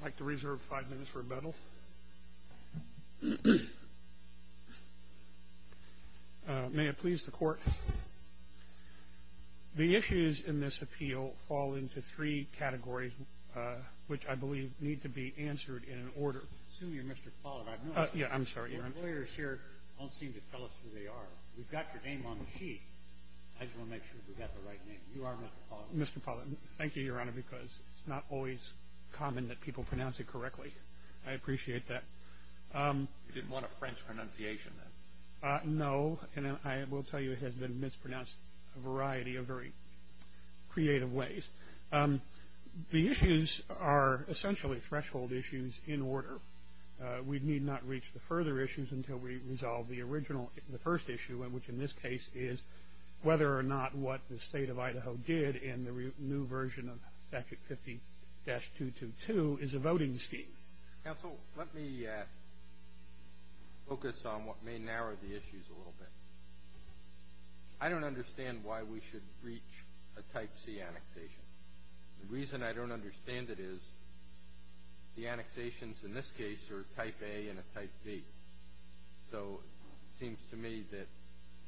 I'd like to reserve five minutes for rebuttal. May it please the Court? The issues in this appeal fall into three categories which I believe need to be answered in an order. I assume you're Mr. Pollard. I've noticed that your lawyers here don't seem to tell us who they are. We've got your name on the sheet. I just want to make sure we've got the right name. You are Mr. Pollard. Well, Mr. Pollard, thank you, Your Honor, because it's not always common that people pronounce it correctly. I appreciate that. You didn't want a French pronunciation, then? No, and I will tell you it has been mispronounced a variety of very creative ways. The issues are essentially threshold issues in order. We need not reach the further issues until we resolve the original, the first issue, which in this case is whether or not what the State of Idaho did in the new version of Statute 50-222 is a voting scheme. Counsel, let me focus on what may narrow the issues a little bit. I don't understand why we should breach a Type C annexation. The reason I don't understand it is the annexations in this case are a Type A and a Type B. So it seems to me that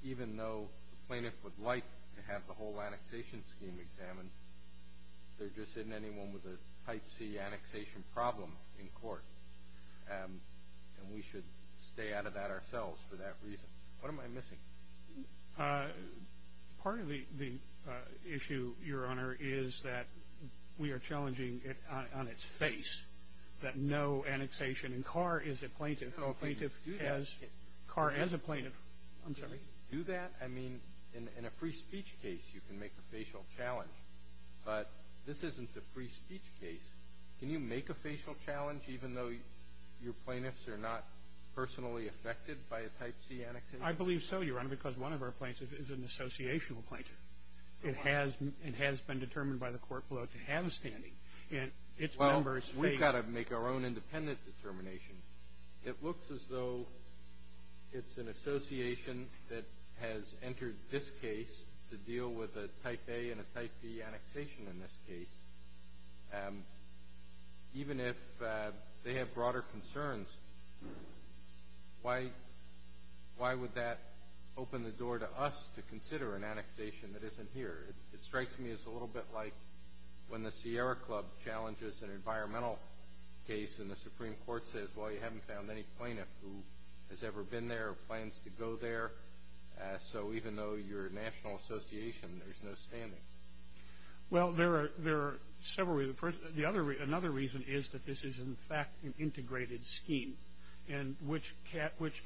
even though the plaintiff would like to have the whole annexation scheme examined, there just isn't anyone with a Type C annexation problem in court, and we should stay out of that ourselves for that reason. What am I missing? Part of the issue, Your Honor, is that we are challenging it on its face that no annexation in Carr is a plaintiff, or a plaintiff as Carr as a plaintiff. I'm sorry? Can we do that? I mean, in a free speech case, you can make a facial challenge, but this isn't a free speech case. Can you make a facial challenge even though your plaintiffs are not personally affected by a Type C annexation? I believe so, Your Honor, because one of our plaintiffs is an associational plaintiff. It has been determined by the court below to have a standing, and its members face Well, we've got to make our own independent determination. It looks as though it's an association that has entered this case to deal with a Type A and a Type B annexation in this case. Even if they have broader concerns, why would that open the door to us to consider an annexation that isn't here? It strikes me as a little bit like when the Sierra Club challenges an environmental case, and the Supreme Court says, well, you haven't found any plaintiff who has ever been there or plans to go there. So even though you're a national association, there's no standing. Well, there are several reasons. The other reason is that this is, in fact, an integrated scheme, and which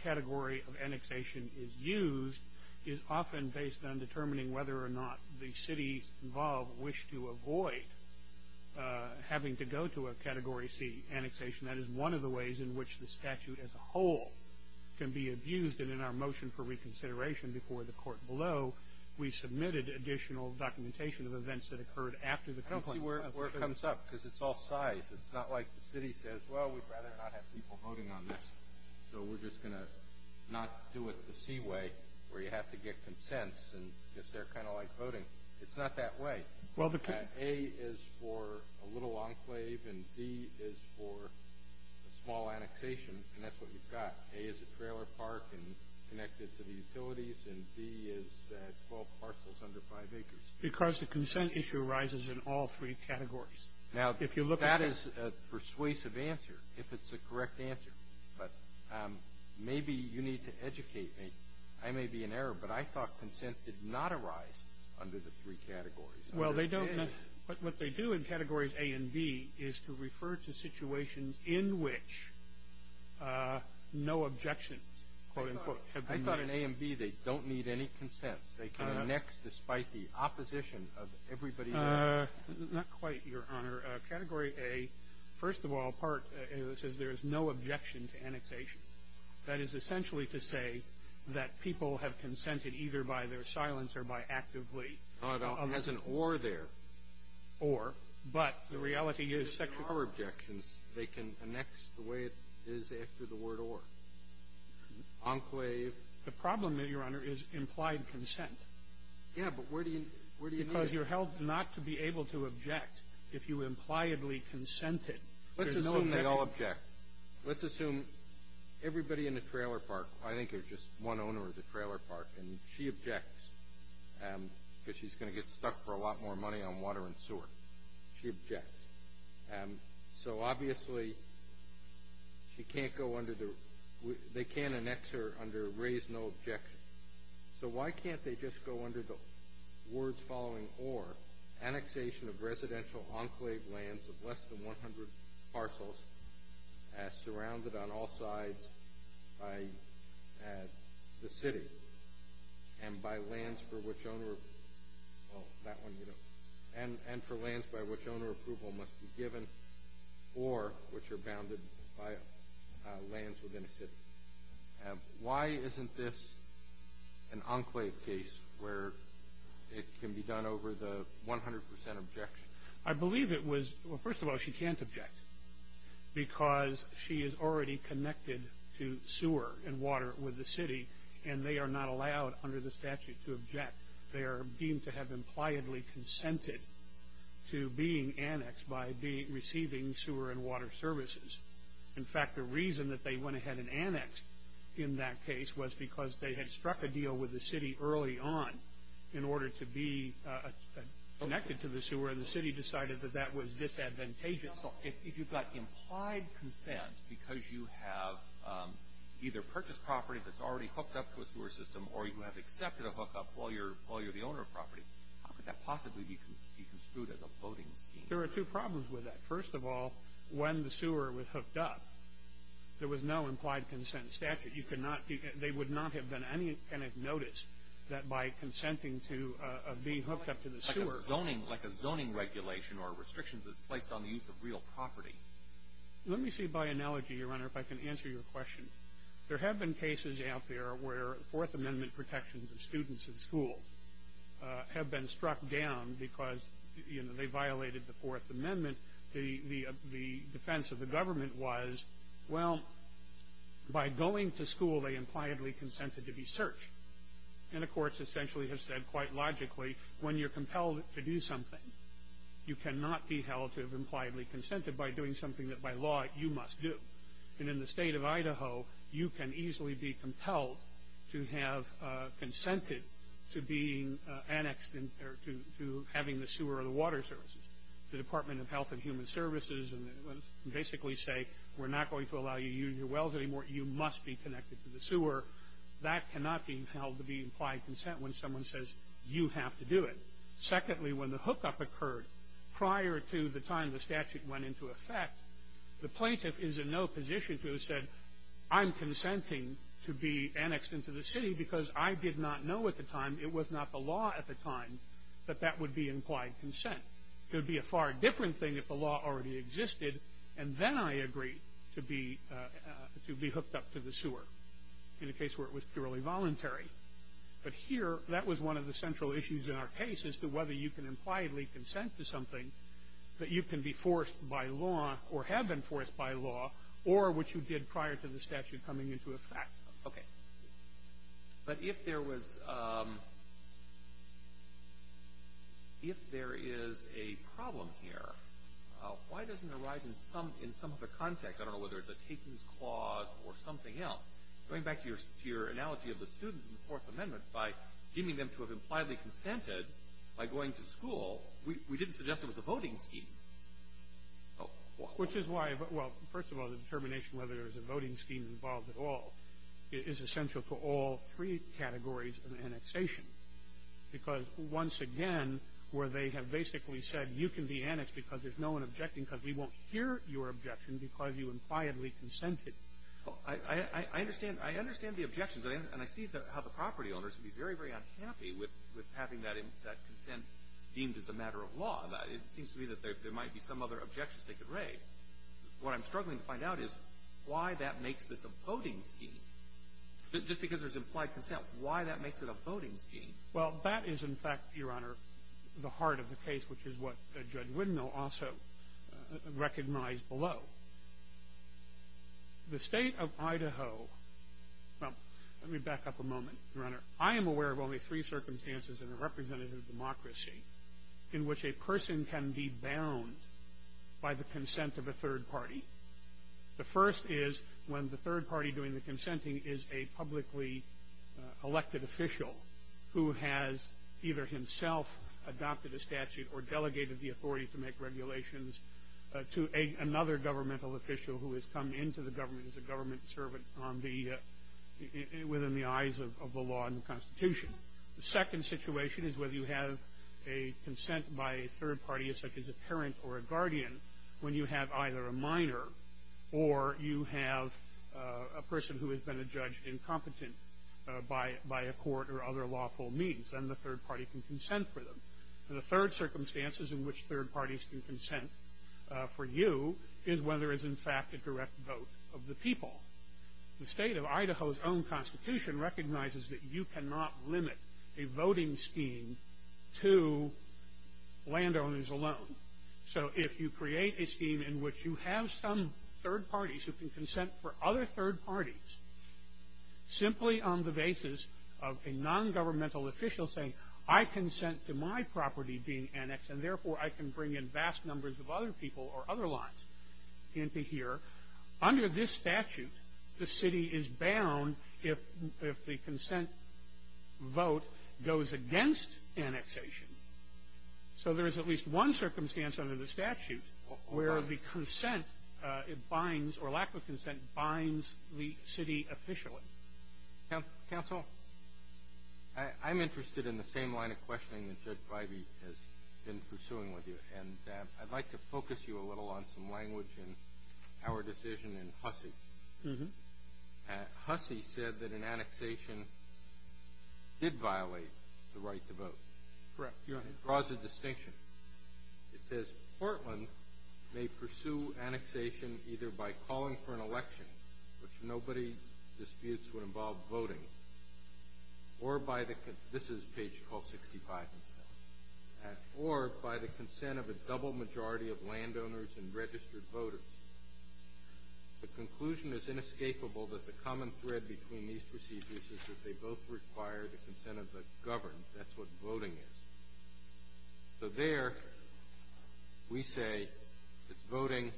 category of annexation is used is often based on determining whether or not the cities involved wish to avoid having to go to a Category C annexation. That is one of the ways in which the statute as a whole can be abused, and in our motion for reconsideration before the court below, we submitted additional documentation of events that occurred after the complaint. I don't see where it comes up, because it's all size. It's not like the city says, well, we'd rather not have people voting on this, so we're just going to not do it the C way, where you have to get consents, and just they're kind of like voting. It's not that way. A is for a little enclave, and B is for a small annexation, and that's what we've got. A is a trailer park and connected to the utilities, and B is 12 parcels under 5 acres. Because the consent issue arises in all three categories. Now, that is a persuasive answer, if it's the correct answer, but maybe you need to educate me. I may be in error, but I thought consent did not arise under the three categories. Well, they don't. But what they do in categories A and B is to refer to situations in which no objections, quote, unquote, have been made. I thought in A and B they don't need any consents. They can annex despite the opposition of everybody else. Not quite, Your Honor. Category A, first of all, part of it says there is no objection to annexation. That is essentially to say that people have consented either by their silence or by actively objecting. Well, it has an or there. Or. But the reality is section – If there are objections, they can annex the way it is after the word or. Enclave. The problem, Your Honor, is implied consent. Yeah, but where do you – where do you need it? Because you're held not to be able to object if you impliedly consented. Let's assume they all object. Let's assume everybody in a trailer park – I think there's just one owner of the trailer park, and she objects because she's going to get stuck for a lot more money on water and sewer. She objects. So, obviously, she can't go under the – they can't annex her under raise no objection. So why can't they just go under the words following or, annexation of residential enclave lands of less than 100 parcels surrounded on all sides by the city and by lands for which owner – well, that one you don't – and for lands by which owner approval must be given or which are bounded by lands within a city? Why isn't this an enclave case where it can be done over the 100 percent objection? I believe it was – well, first of all, she can't object because she is already connected to sewer and water with the city, and they are not allowed under the statute to object. They are deemed to have impliedly consented to being annexed by receiving sewer and water services. In fact, the reason that they went ahead and annexed in that case was because they had struck a deal with the city early on in order to be connected to the sewer, where the city decided that that was disadvantageous. So if you've got implied consent because you have either purchased property that's already hooked up to a sewer system or you have accepted a hookup while you're the owner of property, how could that possibly be construed as a voting scheme? There are two problems with that. First of all, when the sewer was hooked up, there was no implied consent statute. You could not – they would not have been any kind of notice that by consenting to being hooked up to the sewer. It's zoning, like a zoning regulation or a restriction that's placed on the use of real property. Let me see by analogy, Your Honor, if I can answer your question. There have been cases out there where Fourth Amendment protections of students in schools have been struck down because, you know, they violated the Fourth Amendment. The defense of the government was, well, by going to school, they impliedly consented to be searched. And the courts essentially have said quite logically when you're compelled to do something, you cannot be held to have impliedly consented by doing something that by law you must do. And in the state of Idaho, you can easily be compelled to have consented to being annexed or to having the sewer or the water services. The Department of Health and Human Services can basically say we're not going to allow you to use your wells anymore. You must be connected to the sewer. That cannot be held to be implied consent when someone says you have to do it. Secondly, when the hookup occurred prior to the time the statute went into effect, the plaintiff is in no position to have said I'm consenting to be annexed into the city because I did not know at the time, it was not the law at the time, that that would be implied consent. It would be a far different thing if the law already existed and then I agreed to be hooked up to the sewer. In a case where it was purely voluntary. But here, that was one of the central issues in our case as to whether you can impliedly consent to something that you can be forced by law or have been forced by law or which you did prior to the statute coming into effect. Okay. But if there was – if there is a problem here, why doesn't it arise in some of the context? I don't know whether it's a takings clause or something else. Going back to your analogy of the students in the Fourth Amendment, by deeming them to have impliedly consented by going to school, we didn't suggest it was a voting scheme. Which is why – well, first of all, the determination whether there is a voting scheme involved at all is essential for all three categories of annexation. Because once again, where they have basically said you can be annexed because there's no one objecting because we won't hear your objection because you impliedly consented. I understand the objections. And I see how the property owners would be very, very unhappy with having that consent deemed as a matter of law. It seems to me that there might be some other objections they could raise. What I'm struggling to find out is why that makes this a voting scheme. Just because there's implied consent, why that makes it a voting scheme. Well, that is, in fact, Your Honor, the heart of the case, which is what Judge Widnall also recognized below. The State of Idaho – well, let me back up a moment, Your Honor. I am aware of only three circumstances in a representative democracy in which a person can be bound by the consent of a third party. The first is when the third party doing the consenting is a publicly elected official who has either himself adopted a statute or delegated the authority to make regulations to another governmental official who has come into the government as a government servant on the – within the eyes of the law and the Constitution. The second situation is whether you have a consent by a third party, such as a parent or a guardian, when you have either a minor or you have a person who has been adjudged incompetent by a court or other lawful means, and the third party can consent for them. And the third circumstances in which third parties can consent for you is when there is, in fact, a direct vote of the people. The State of Idaho's own Constitution recognizes that you cannot limit a voting scheme to landowners alone. So if you create a scheme in which you have some third parties who can consent for other third parties, simply on the basis of a nongovernmental official saying, I consent to my property being annexed and, therefore, I can bring in vast numbers of other people or other lands into here, under this statute the city is bound if the consent vote goes against annexation. So there is at least one circumstance under the statute where the consent binds or lack of consent binds the city officially. Counsel? I'm interested in the same line of questioning that Judge Bivey has been pursuing with you, and I'd like to focus you a little on some language in our decision in Hussey. Hussey said that an annexation did violate the right to vote. Correct. Your Honor. It draws a distinction. It says, Portland may pursue annexation either by calling for an election, which in nobody's disputes would involve voting, or by the con- this is page 1265, or by the consent of a double majority of landowners and registered voters. The conclusion is inescapable that the common thread between these procedures is that they both require the consent of the governed. That's what voting is. So there we say it's voting.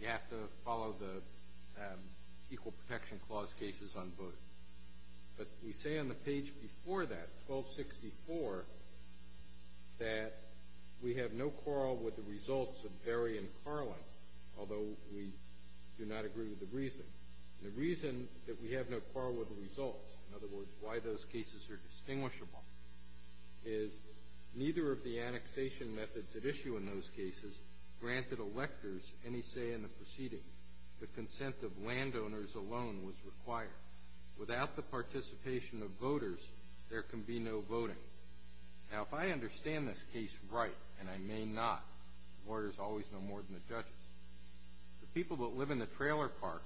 You have to follow the Equal Protection Clause cases on voting. But we say on the page before that, 1264, that we have no quarrel with the results of Berry and Carlin, although we do not agree with the reason. The reason that we have no quarrel with the results, in other words, why those cases are distinguishable, is neither of the annexation methods at issue in those cases granted electors any say in the proceedings. The consent of landowners alone was required. Without the participation of voters, there can be no voting. Now, if I understand this case right, and I may not, the lawyers always know more than the judges, the people that live in the trailer park,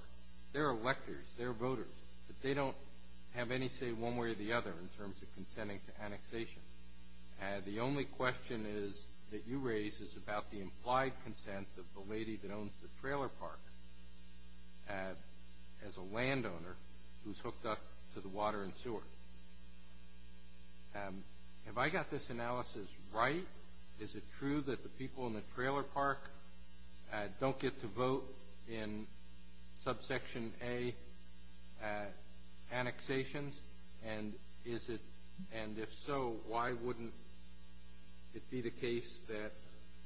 they're electors, they're voters, but they don't have any say one way or the other in terms of consenting to annexation. The only question that you raise is about the implied consent of the lady that owns the trailer park as a landowner who's hooked up to the water and sewer. Have I got this analysis right? Is it true that the people in the trailer park don't get to vote in subsection A annexations? And if so, why wouldn't it be the case that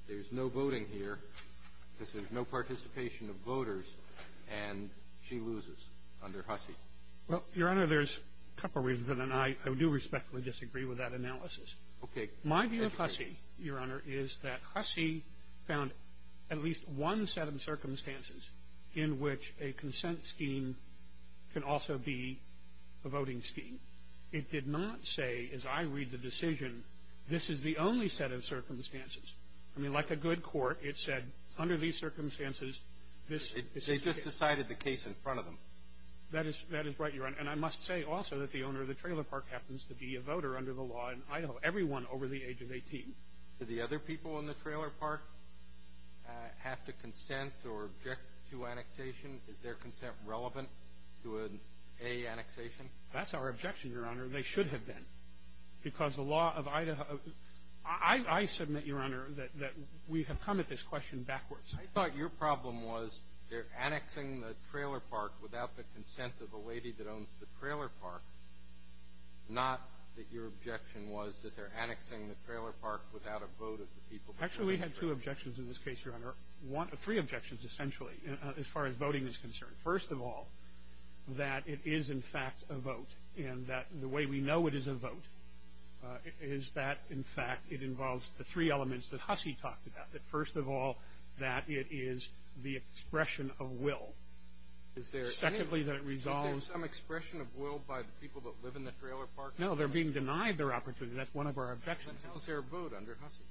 there's no voting here because there's no participation of voters and she loses under Hussey? Well, Your Honor, there's a couple reasons, and I do respectfully disagree with that analysis. Okay. My view of Hussey, Your Honor, is that Hussey found at least one set of circumstances in which a consent scheme can also be a voting scheme. It did not say, as I read the decision, this is the only set of circumstances. I mean, like a good court, it said under these circumstances, this is the case. They just decided the case in front of them. That is right, Your Honor. And I must say also that the owner of the trailer park happens to be a voter under the law in Idaho. So everyone over the age of 18. Do the other people in the trailer park have to consent or object to annexation? Is their consent relevant to an A annexation? That's our objection, Your Honor. They should have been because the law of Idaho – I submit, Your Honor, that we have come at this question backwards. I thought your problem was they're annexing the trailer park without the consent of the lady that owns the trailer park, not that your objection was that they're annexing the trailer park without a vote of the people. Actually, we had two objections in this case, Your Honor. Three objections, essentially, as far as voting is concerned. First of all, that it is, in fact, a vote. And that the way we know it is a vote is that, in fact, it involves the three elements that Hussey talked about. First of all, that it is the expression of will. Secondly, that it resolves – Is there some expression of will by the people that live in the trailer park? No, they're being denied their opportunity. That's one of our objections. Then how is there a vote under Hussey?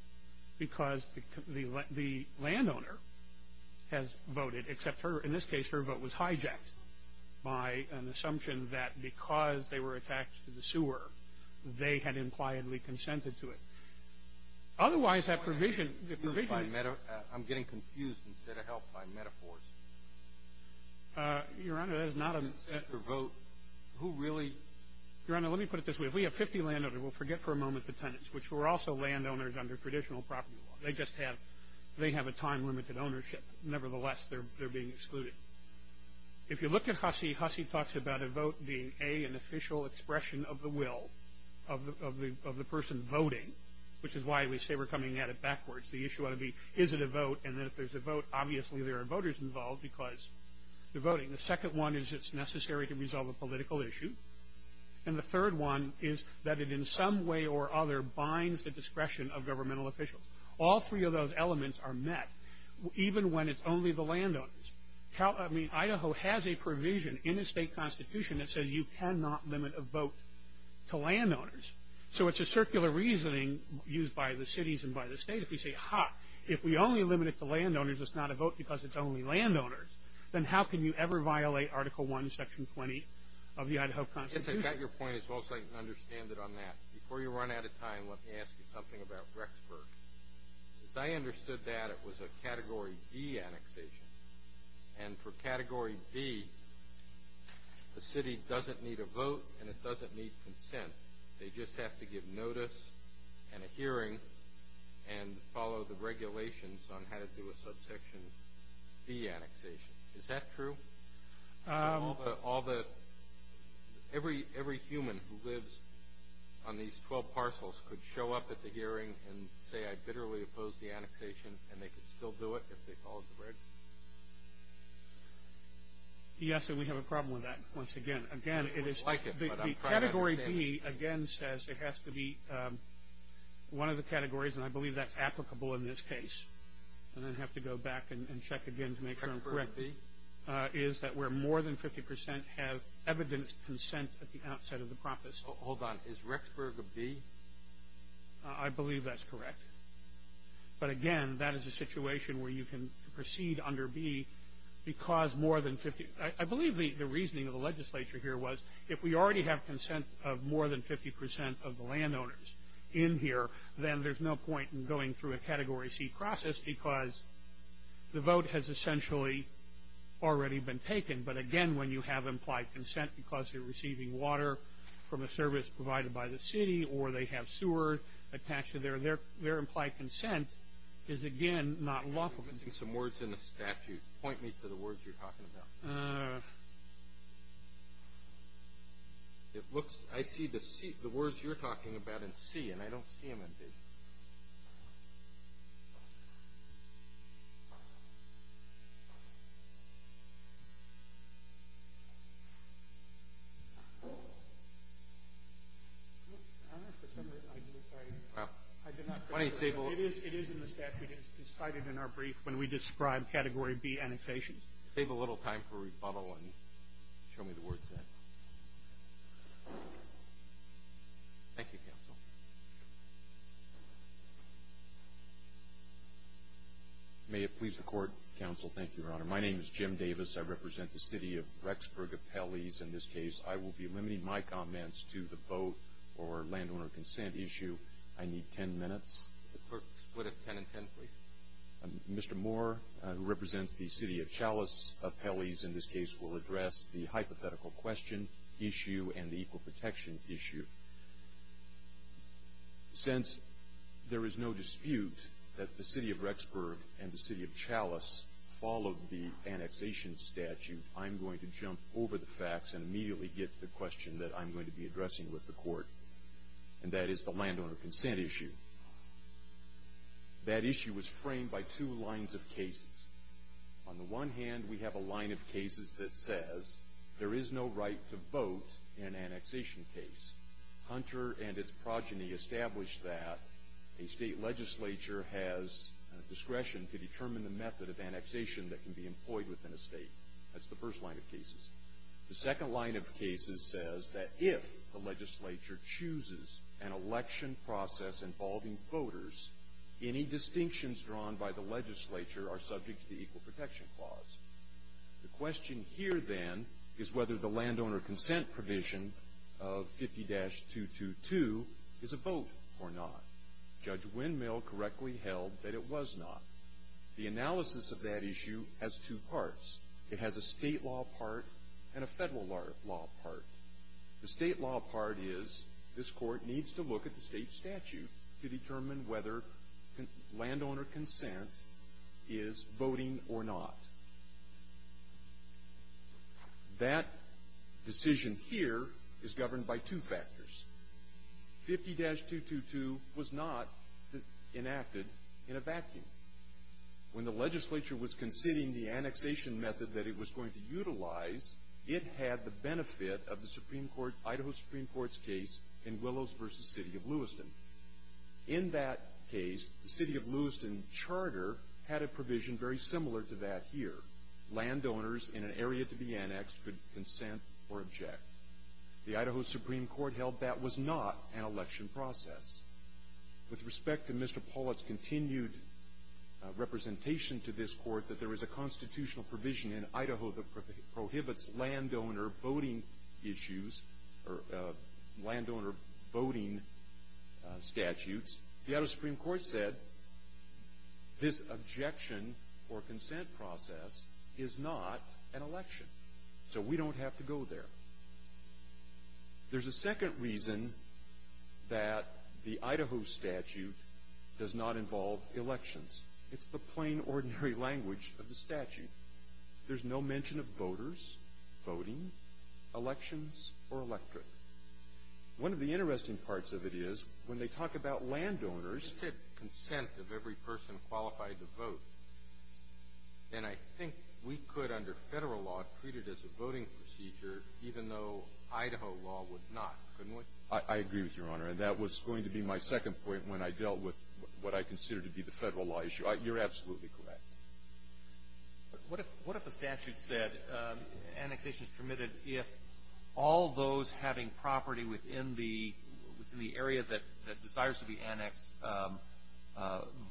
Because the landowner has voted, except in this case her vote was hijacked by an assumption that because they were attached to the sewer, they had impliedly consented to it. Otherwise, that provision – I'm getting confused instead of helped by metaphors. Your Honor, that is not a – Consent or vote. Who really – Your Honor, let me put it this way. If we have 50 landowners, we'll forget for a moment the tenants, which were also landowners under traditional property law. They just have a time-limited ownership. Nevertheless, they're being excluded. If you look at Hussey, Hussey talks about a vote being, A, an official expression of the will of the person voting, which is why we say we're coming at it backwards. The issue ought to be, Is it a vote? And then if there's a vote, obviously there are voters involved because they're voting. The second one is it's necessary to resolve a political issue. And the third one is that it in some way or other binds the discretion of governmental officials. All three of those elements are met, even when it's only the landowners. I mean, Idaho has a provision in its state constitution that says you cannot limit a vote to landowners. So it's a circular reasoning used by the cities and by the state. If you say, Ha, if we only limit it to landowners, it's not a vote because it's only landowners, then how can you ever violate Article I, Section 20 of the Idaho Constitution? Yes, I got your point as well, so I can understand it on that. Before you run out of time, let me ask you something about Rexburg. As I understood that, it was a Category D annexation. And for Category D, the city doesn't need a vote and it doesn't need consent. They just have to give notice and a hearing and follow the regulations on how to do a Subsection B annexation. Is that true? All the – every human who lives on these 12 parcels could show up at the hearing and say, I bitterly oppose the annexation, and they could still do it if they followed the regs? Yes, and we have a problem with that once again. Again, it is – the Category B, again, says it has to be one of the categories, and I believe that's applicable in this case. I'm going to have to go back and check again to make sure I'm correct. Rexburg B? Is that where more than 50 percent have evidenced consent at the outset of the process. Hold on. Is Rexburg a B? I believe that's correct. But, again, that is a situation where you can proceed under B because more than 50 – I believe the reasoning of the legislature here was if we already have consent of more than 50 percent of the landowners in here, then there's no point in going through a Category C process because the vote has essentially already been taken. But, again, when you have implied consent because they're receiving water from a service provided by the city or they have sewer attached to their – their implied consent is, again, not lawful. I'm missing some words in the statute. Point me to the words you're talking about. It looks – I see the C – the words you're talking about in C, and I don't see them in B. I don't know if there's something I didn't say. I did not put it in the statute. It is in the statute. It's cited in our brief when we describe Category B annexations. Save a little time for rebuttal and show me the words then. Thank you, Counsel. May it please the Court, Counsel. Thank you, Your Honor. My name is Jim Davis. I represent the City of Rexburg Appellees in this case. I will be limiting my comments to the vote or landowner consent issue. I need 10 minutes. Split it 10 and 10, please. Mr. Moore, who represents the City of Chalice Appellees in this case, will address the hypothetical question issue and the equal protection issue. Since there is no dispute that the City of Rexburg and the City of Chalice followed the annexation statute, I'm going to jump over the facts and immediately get to the question that I'm going to be addressing with the Court, and that is the landowner consent issue. That issue was framed by two lines of cases. On the one hand, we have a line of cases that says there is no right to vote in an annexation case. Hunter and its progeny established that a state legislature has discretion to determine the method of annexation that can be employed within a state. That's the first line of cases. The second line of cases says that if the legislature chooses an election process involving voters, any distinctions drawn by the legislature are subject to the Equal Protection Clause. The question here, then, is whether the landowner consent provision of 50-222 is a vote or not. Judge Windmill correctly held that it was not. The analysis of that issue has two parts. It has a state law part and a federal law part. The state law part is this Court needs to look at the state statute to determine whether landowner consent is voting or not. That decision here is governed by two factors. 50-222 was not enacted in a vacuum. When the legislature was considering the annexation method that it was going to utilize, it had the benefit of the Idaho Supreme Court's case in Willows v. City of Lewiston. In that case, the City of Lewiston charter had a provision very similar to that here. Landowners in an area to be annexed could consent or object. The Idaho Supreme Court held that was not an election process. With respect to Mr. Pollitt's continued representation to this Court that there is a constitutional provision in Idaho that prohibits landowner voting issues or landowner voting statutes, the Idaho Supreme Court said this objection or consent process is not an election. So we don't have to go there. There's a second reason that the Idaho statute does not involve elections. It's the plain, ordinary language of the statute. There's no mention of voters, voting, elections, or electorate. One of the interesting parts of it is when they talk about landowners — If it said consent of every person qualified to vote, then I think we could, under Federal law, treat it as a voting procedure, even though Idaho law would not, couldn't we? I agree with you, Your Honor. And that was going to be my second point when I dealt with what I consider to be the Federal law issue. You're absolutely correct. What if the statute said annexation is permitted if all those having property within the area that desires to be annexed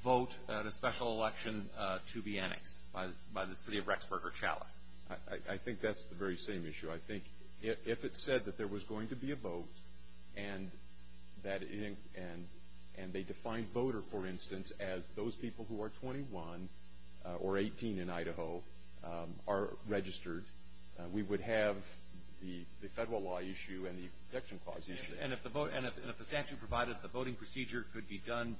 vote at a special election to be annexed by the city of Rexburg or Chalice? I think that's the very same issue. I think if it said that there was going to be a vote and they defined voter, for instance, as those people who are 21 or 18 in Idaho are registered, we would have the Federal law issue and the protection clause issue. And if the statute provided that the voting procedure could be done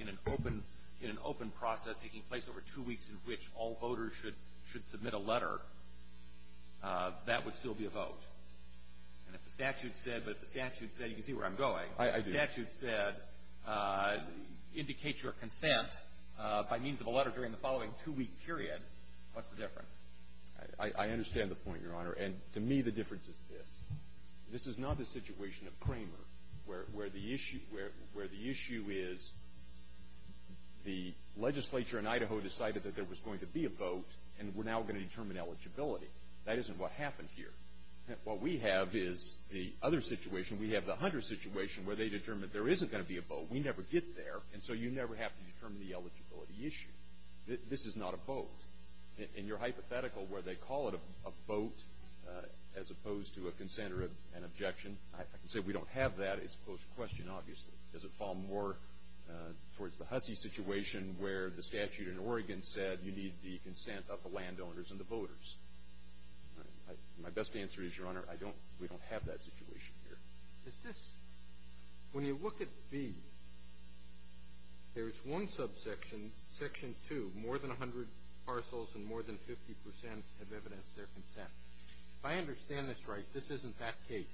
in an open process taking place over two weeks in which all voters should submit a letter, that would still be a vote. And if the statute said, but if the statute said, you can see where I'm going. I do. If the statute said indicate your consent by means of a letter during the following two-week period, what's the difference? I understand the point, Your Honor. And to me, the difference is this. This is not a situation of Kramer where the issue is the legislature in Idaho decided that there was going to be a vote and we're now going to determine eligibility. That isn't what happened here. What we have is the other situation. We have the Hunter situation where they determined there isn't going to be a vote. We never get there. And so you never have to determine the eligibility issue. This is not a vote. In your hypothetical where they call it a vote as opposed to a consent or an objection, I can say we don't have that as opposed to question, obviously. Does it fall more towards the Hussey situation where the statute in Oregon said you need the consent of the landowners and the voters? My best answer is, Your Honor, I don't we don't have that situation here. When you look at B, there is one subsection, section 2, more than 100 parcels and more than 50% have evidenced their consent. If I understand this right, this isn't that case,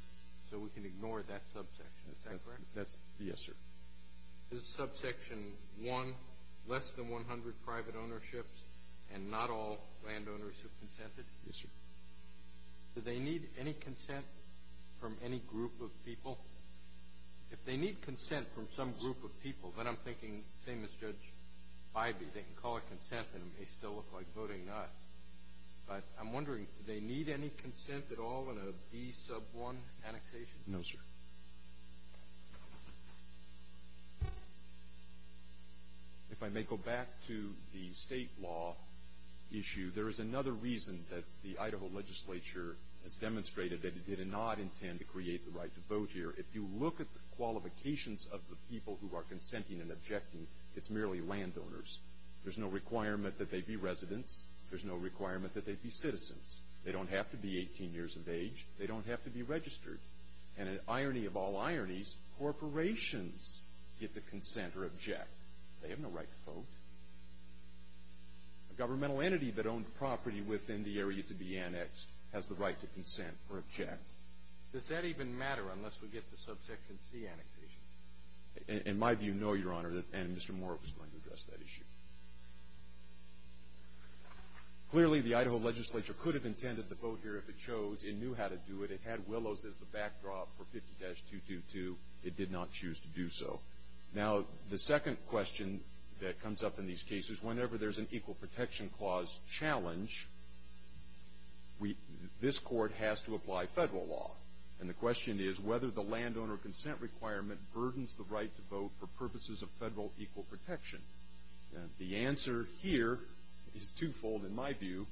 so we can ignore that subsection. Is that correct? Yes, sir. Is subsection 1 less than 100 private ownerships and not all landowners have consented? Yes, sir. Do they need any consent from any group of people? If they need consent from some group of people, then I'm thinking the same as Judge Bybee, they can call it consent and it may still look like voting not. But I'm wondering, do they need any consent at all in a B sub 1 annexation? No, sir. If I may go back to the state law issue, there is another reason that the Idaho legislature has demonstrated that it did not intend to create the right to vote here. If you look at the qualifications of the people who are consenting and objecting, it's merely landowners. There's no requirement that they be residents. There's no requirement that they be citizens. They don't have to be 18 years of age. They don't have to be registered. And an irony of all ironies, corporations get to consent or object. They have no right to vote. A governmental entity that owned property within the area to be annexed has the right to consent or object. Does that even matter unless we get to subsection C annexations? In my view, no, Your Honor, and Mr. Moore was going to address that issue. Clearly, the Idaho legislature could have intended the vote here if it chose. It knew how to do it. It had Willows as the backdrop for 50-222. It did not choose to do so. Now, the second question that comes up in these cases, whenever there's an equal protection clause challenge, this court has to apply federal law. And the question is whether the landowner consent requirement burdens the right to vote for purposes of federal equal protection. The answer here is twofold in my view.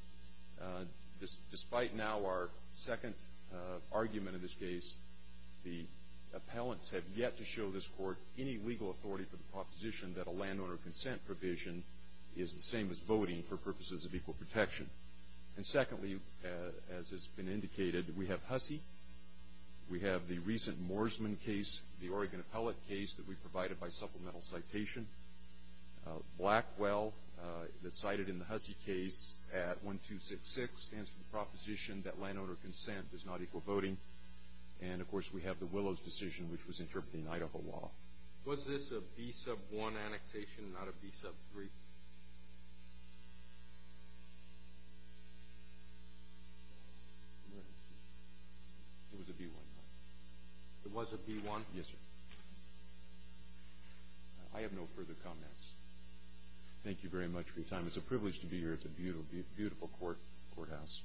Despite now our second argument in this case, the appellants have yet to show this court any legal authority for the proposition that a landowner consent provision is the same as voting for purposes of equal protection. And secondly, as has been indicated, we have Hussey. We have the recent Morseman case, the Oregon appellate case that we provided by supplemental citation. Blackwell, that's cited in the Hussey case at 1266, stands for the proposition that landowner consent does not equal voting. And, of course, we have the Willows decision, which was interpreting Idaho law. Was this a B-1 annexation, not a B-3? It was a B-1. It was a B-1? Yes, sir. I have no further comments. Thank you very much for your time. It's a privilege to be here at the beautiful courthouse.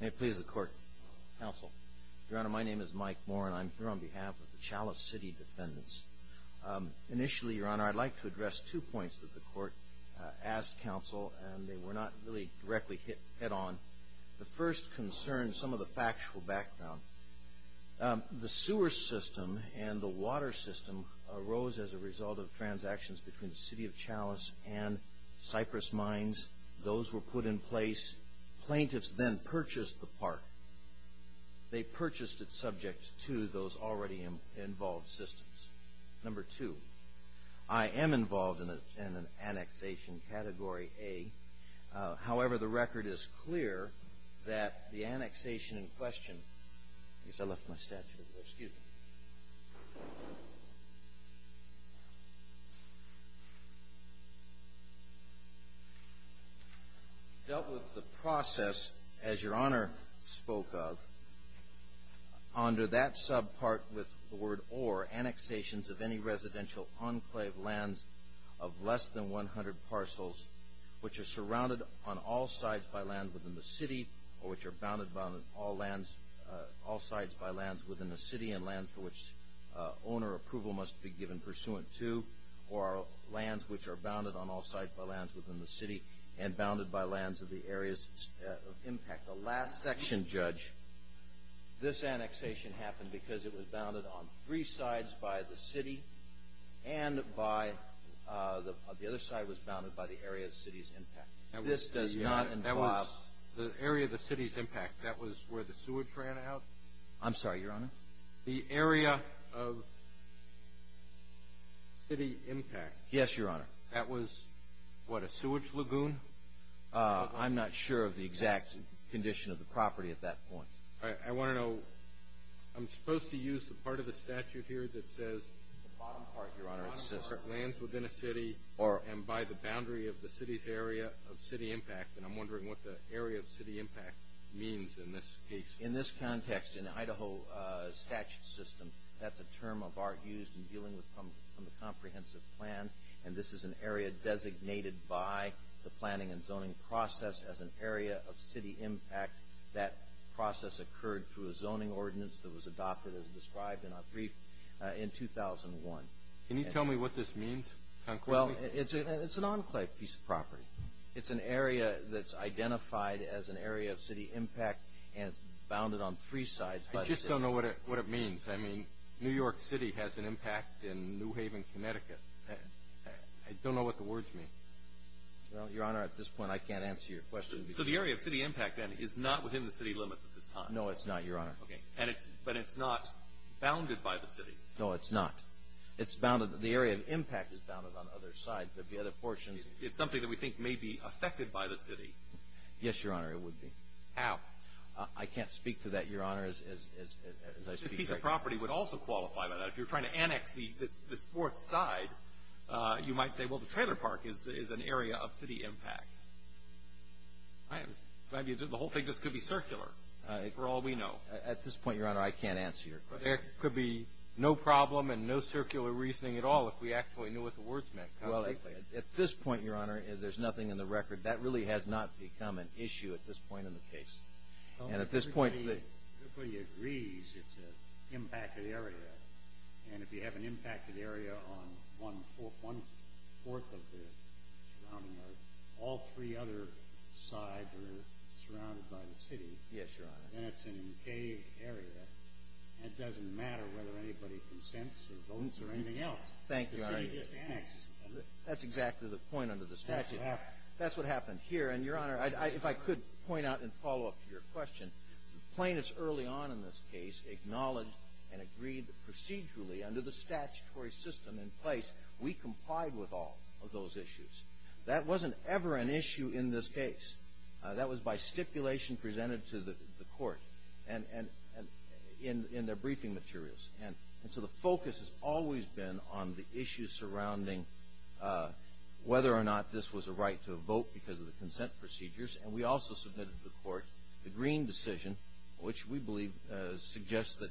May it please the court. Counsel. Your Honor, my name is Mike Moore, and I'm here on behalf of the Chalice City Defendants. Initially, Your Honor, I'd like to address two points that the court asked counsel, and they were not really directly hit on. The first concerned some of the factual background. The sewer system and the water system arose as a result of transactions between the city of Chalice and Cypress Mines. Those were put in place. Plaintiffs then purchased the park. They purchased it subject to those already involved systems. Number two, I am involved in an annexation category A. However, the record is clear that the annexation in question dealt with the process, as Your Honor spoke of, Under that subpart with the word or, annexations of any residential enclave lands of less than 100 parcels, which are surrounded on all sides by land within the city or which are bounded on all sides by lands within the city and lands for which owner approval must be given pursuant to, or lands which are bounded on all sides by lands within the city and bounded by lands of the areas of impact. The last section, Judge, this annexation happened because it was bounded on three sides by the city and the other side was bounded by the area of the city's impact. This does not involve the area of the city's impact. That was where the sewage ran out? I'm sorry, Your Honor? The area of city impact. Yes, Your Honor. That was, what, a sewage lagoon? I'm not sure of the exact condition of the property at that point. All right. I want to know, I'm supposed to use the part of the statute here that says the bottom part, Your Honor, lands within a city and by the boundary of the city's area of city impact, and I'm wondering what the area of city impact means in this case. In this context, in the Idaho statute system, that's a term of art used in dealing with the comprehensive plan, and this is an area designated by the planning and zoning process as an area of city impact. That process occurred through a zoning ordinance that was adopted, as described in our brief, in 2001. Can you tell me what this means concretely? Well, it's an enclave piece of property. It's an area that's identified as an area of city impact and it's bounded on three sides. I just don't know what it means. I mean, New York City has an impact in New Haven, Connecticut. I don't know what the words mean. Well, Your Honor, at this point I can't answer your question. So the area of city impact, then, is not within the city limits at this time? No, it's not, Your Honor. Okay. But it's not bounded by the city? No, it's not. It's bounded, the area of impact is bounded on other sides. There'd be other portions. It's something that we think may be affected by the city. Yes, Your Honor, it would be. How? I can't speak to that, Your Honor, as I speak. The enclave piece of property would also qualify by that. If you're trying to annex this fourth side, you might say, well, the trailer park is an area of city impact. The whole thing just could be circular, for all we know. At this point, Your Honor, I can't answer your question. There could be no problem and no circular reasoning at all if we actually knew what the words meant concretely. Well, at this point, Your Honor, there's nothing in the record. That really has not become an issue at this point in the case. Everybody agrees it's an impacted area. And if you have an impacted area on one-fourth of the surrounding area, all three other sides are surrounded by the city. Yes, Your Honor. And it's an enclave area. It doesn't matter whether anybody consents or votes or anything else. Thank you, Your Honor. The city just annexed. That's exactly the point under the statute. That's what happened. And here, Your Honor, if I could point out and follow up to your question, plaintiffs early on in this case acknowledged and agreed procedurally under the statutory system in place, we complied with all of those issues. That wasn't ever an issue in this case. That was by stipulation presented to the court in their briefing materials. And so the focus has always been on the issues surrounding whether or not this was a right to vote because of the consent procedures. And we also submitted to the court the Green decision, which we believe suggests that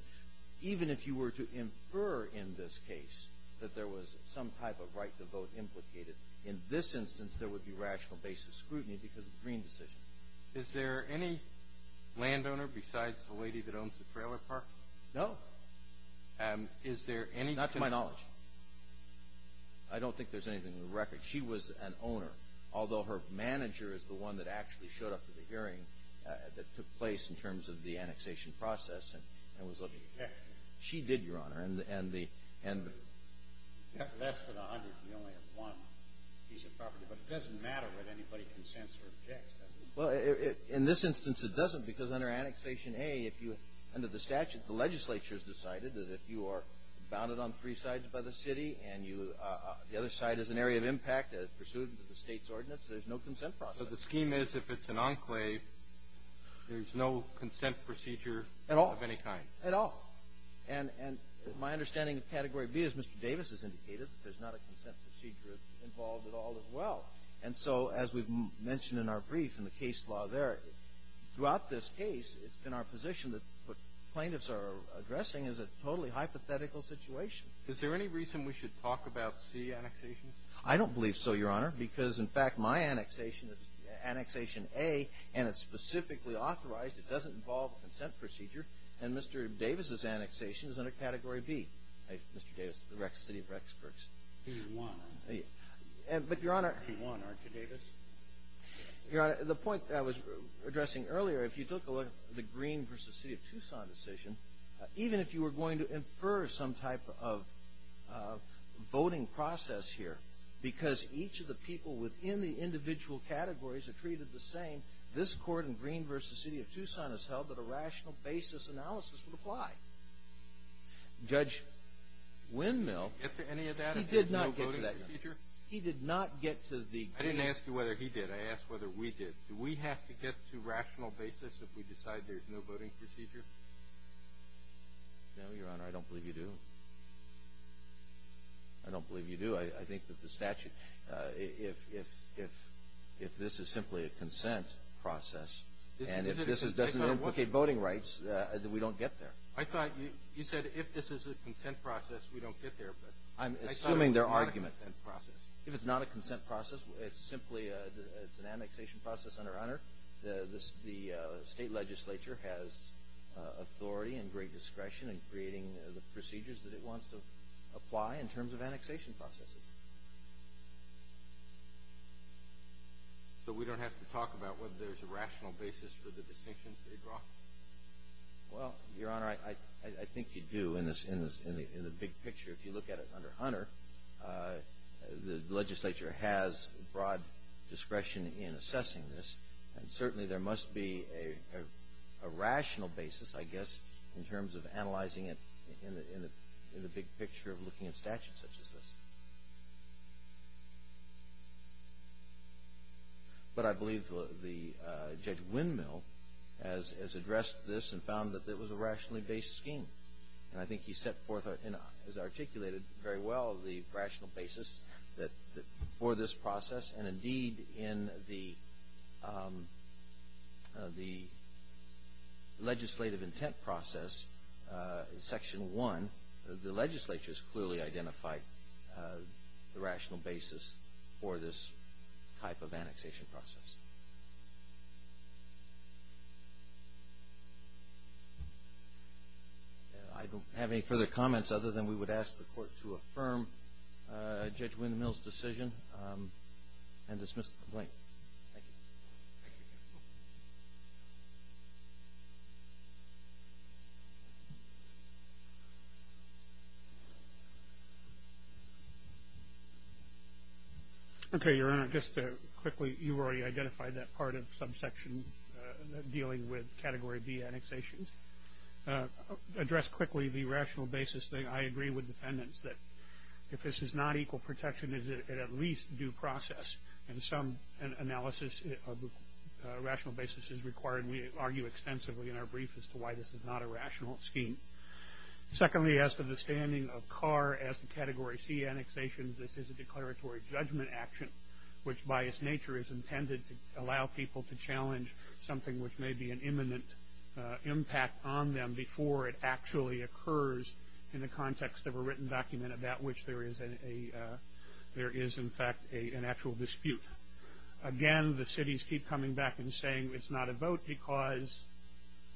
even if you were to infer in this case that there was some type of right to vote implicated, in this instance there would be rational basis scrutiny because of the Green decision. Is there any landowner besides the lady that owns the trailer park? No. Is there any to my knowledge? Not to my knowledge. I don't think there's anything in the record. She was an owner, although her manager is the one that actually showed up to the hearing that took place in terms of the annexation process and was looking. Yes. She did, Your Honor. And the — Less than 100, we only have one piece of property. But it doesn't matter whether anybody consents or objects, does it? Well, in this instance it doesn't because under annexation A, if you — under the statute, the legislature has decided that if you are bounded on three sides by the city and you — the other side is an area of impact, pursuant to the state's ordinance, there's no consent process. So the scheme is if it's an enclave, there's no consent procedure of any kind? At all. At all. And my understanding of category B, as Mr. Davis has indicated, there's not a consent procedure involved at all as well. And so as we've mentioned in our brief in the case law there, throughout this case, it's been our position that what plaintiffs are addressing is a totally hypothetical situation. Is there any reason we should talk about C annexation? I don't believe so, Your Honor, because, in fact, my annexation is annexation A, and it's specifically authorized. It doesn't involve a consent procedure. And Mr. Davis's annexation is under category B, Mr. Davis, the city of Rexburgs. He won. But, Your Honor — But he won, aren't you, Davis? Your Honor, the point that I was addressing earlier, if you took a look at the Green v. City of Tucson decision, even if you were going to infer some type of voting process here, because each of the people within the individual categories are treated the same, this Court in Green v. City of Tucson has held that a rational basis analysis would apply. Judge Windmill — Get to any of that if there's no voting procedure? He did not get to the — I didn't ask you whether he did. I asked whether we did. Do we have to get to rational basis if we decide there's no voting procedure? No, Your Honor. I don't believe you do. I don't believe you do. I think that the statute — if this is simply a consent process, and if this doesn't implicate voting rights, then we don't get there. I thought you said if this is a consent process, we don't get there. I'm assuming they're arguing — I thought it was a consent process. If it's not a consent process, it's simply an annexation process, Your Honor. The state legislature has authority and great discretion in creating the procedures that it wants to apply in terms of annexation processes. So we don't have to talk about whether there's a rational basis for the distinctions they draw? Well, Your Honor, I think you do in the big picture. If you look at it under Hunter, the legislature has broad discretion in assessing this, and certainly there must be a rational basis, I guess, in terms of analyzing it in the big picture of looking at statutes such as this. But I believe Judge Windmill has addressed this and found that it was a rationally based scheme. And I think he set forth and has articulated very well the rational basis for this process. And indeed, in the legislative intent process in Section 1, the legislature has clearly identified the rational basis for this type of annexation process. I don't have any further comments other than we would ask the Court to affirm Judge Windmill's decision and dismiss the complaint. Thank you. Okay, Your Honor. Just quickly, you've already identified that part of subsection dealing with Category B annexations. Address quickly the rational basis thing. I agree with the defendants that if this is not equal protection, is it at least due process? And some analysis of rational basis is required, and we argue extensively in our brief as to why this is not a rational scheme. Secondly, as to the standing of Carr as to Category C annexations, this is a declaratory judgment action, which by its nature is intended to allow people to challenge something which may be an imminent impact on them before it actually occurs in the context of a written document about which there is in fact an actual dispute. Again, the cities keep coming back and saying it's not a vote because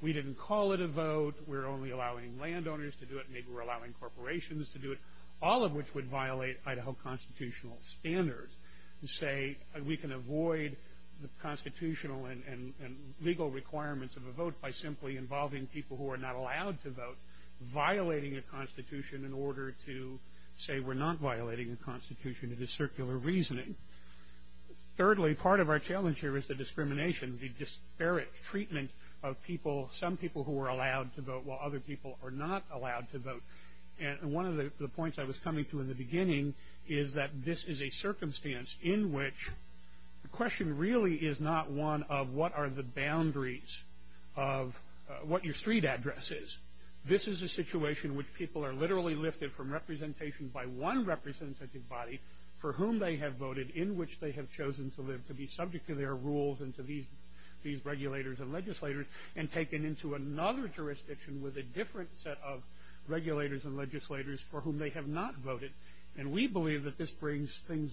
we didn't call it a vote. We're only allowing landowners to do it. Maybe we're allowing corporations to do it, all of which would violate Idaho constitutional standards, and say we can avoid the constitutional and legal requirements of a vote by simply involving people who are not allowed to vote, violating a constitution in order to say we're not violating a constitution. It is circular reasoning. Thirdly, part of our challenge here is the discrimination, the disparate treatment of people, some people who are allowed to vote while other people are not allowed to vote. And one of the points I was coming to in the beginning is that this is a circumstance in which the question really is not one of what are the boundaries of what your street address is. This is a situation in which people are literally lifted from representation by one representative body for whom they have voted in which they have chosen to live, to be subject to their rules and to these regulators and legislators, and taken into another jurisdiction with a different set of regulators and legislators for whom they have not voted. And we believe that this brings things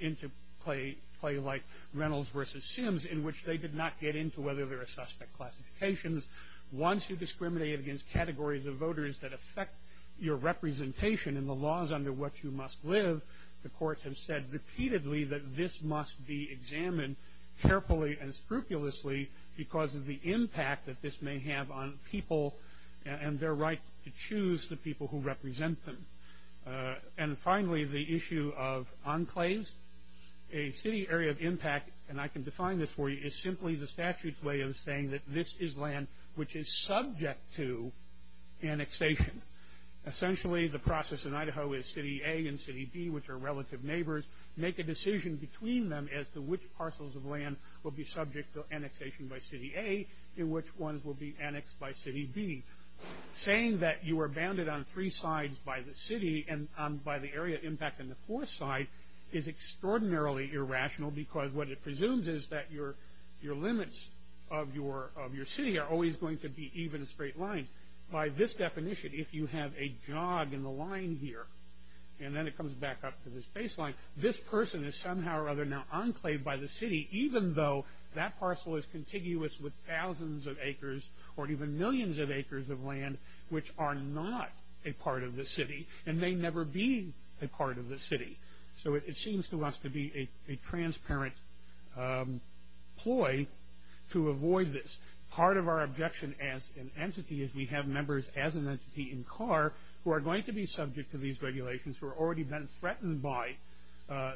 into play like Reynolds versus Sims in which they did not get into whether there are suspect classifications. Once you discriminate against categories of voters that affect your representation and the laws under which you must live, the courts have said repeatedly that this must be examined carefully and scrupulously because of the impact that this may have on people and their right to choose the people who represent them. And finally, the issue of enclaves. A city area of impact, and I can define this for you, is simply the statute's way of saying that this is land which is subject to annexation. Essentially, the process in Idaho is City A and City B, which are relative neighbors, make a decision between them as to which parcels of land will be subject to annexation by City A and which ones will be annexed by City B. Saying that you are bounded on three sides by the city and by the area of impact on the fourth side is extraordinarily irrational because what it presumes is that your limits of your city are always going to be even straight lines. By this definition, if you have a jog in the line here, and then it comes back up to this baseline, this person is somehow or other now enclaved by the city even though that parcel is contiguous with thousands of acres or even millions of acres of land which are not a part of the city and may never be a part of the city. So it seems to us to be a transparent ploy to avoid this. Part of our objection as an entity is we have members as an entity in CAR who are going to be subject to these regulations, who have already been threatened by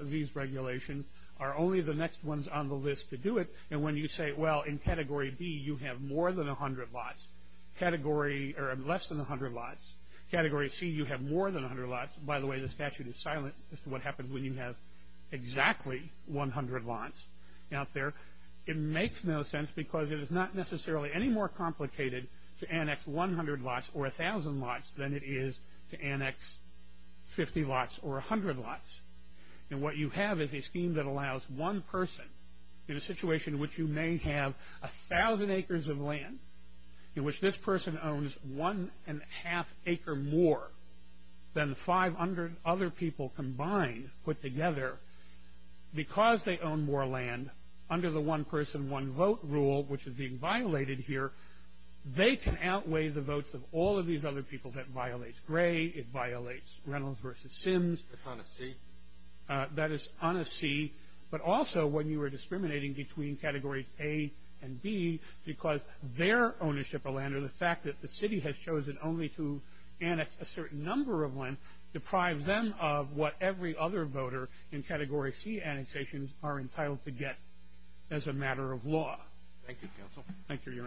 these regulations, are only the next ones on the list to do it. And when you say, well, in Category B you have more than 100 lots, less than 100 lots, Category C you have more than 100 lots. By the way, the statute is silent as to what happens when you have exactly 100 lots out there. It makes no sense because it is not necessarily any more complicated to annex 100 lots or 1,000 lots than it is to annex 50 lots or 100 lots. And what you have is a scheme that allows one person, in a situation in which you may have 1,000 acres of land, in which this person owns one and a half acre more than 500 other people combined, put together, because they own more land, under the one person, one vote rule, which is being violated here, they can outweigh the votes of all of these other people. That violates Gray. It violates Reynolds v. Sims. That's on a C. That is on a C. But also when you are discriminating between Categories A and B because their ownership of land or the fact that the city has chosen only to annex a certain number of land deprives them of what every other voter in Category C annexations are entitled to get as a matter of law. Thank you, Counsel. Thank you, Your Honor.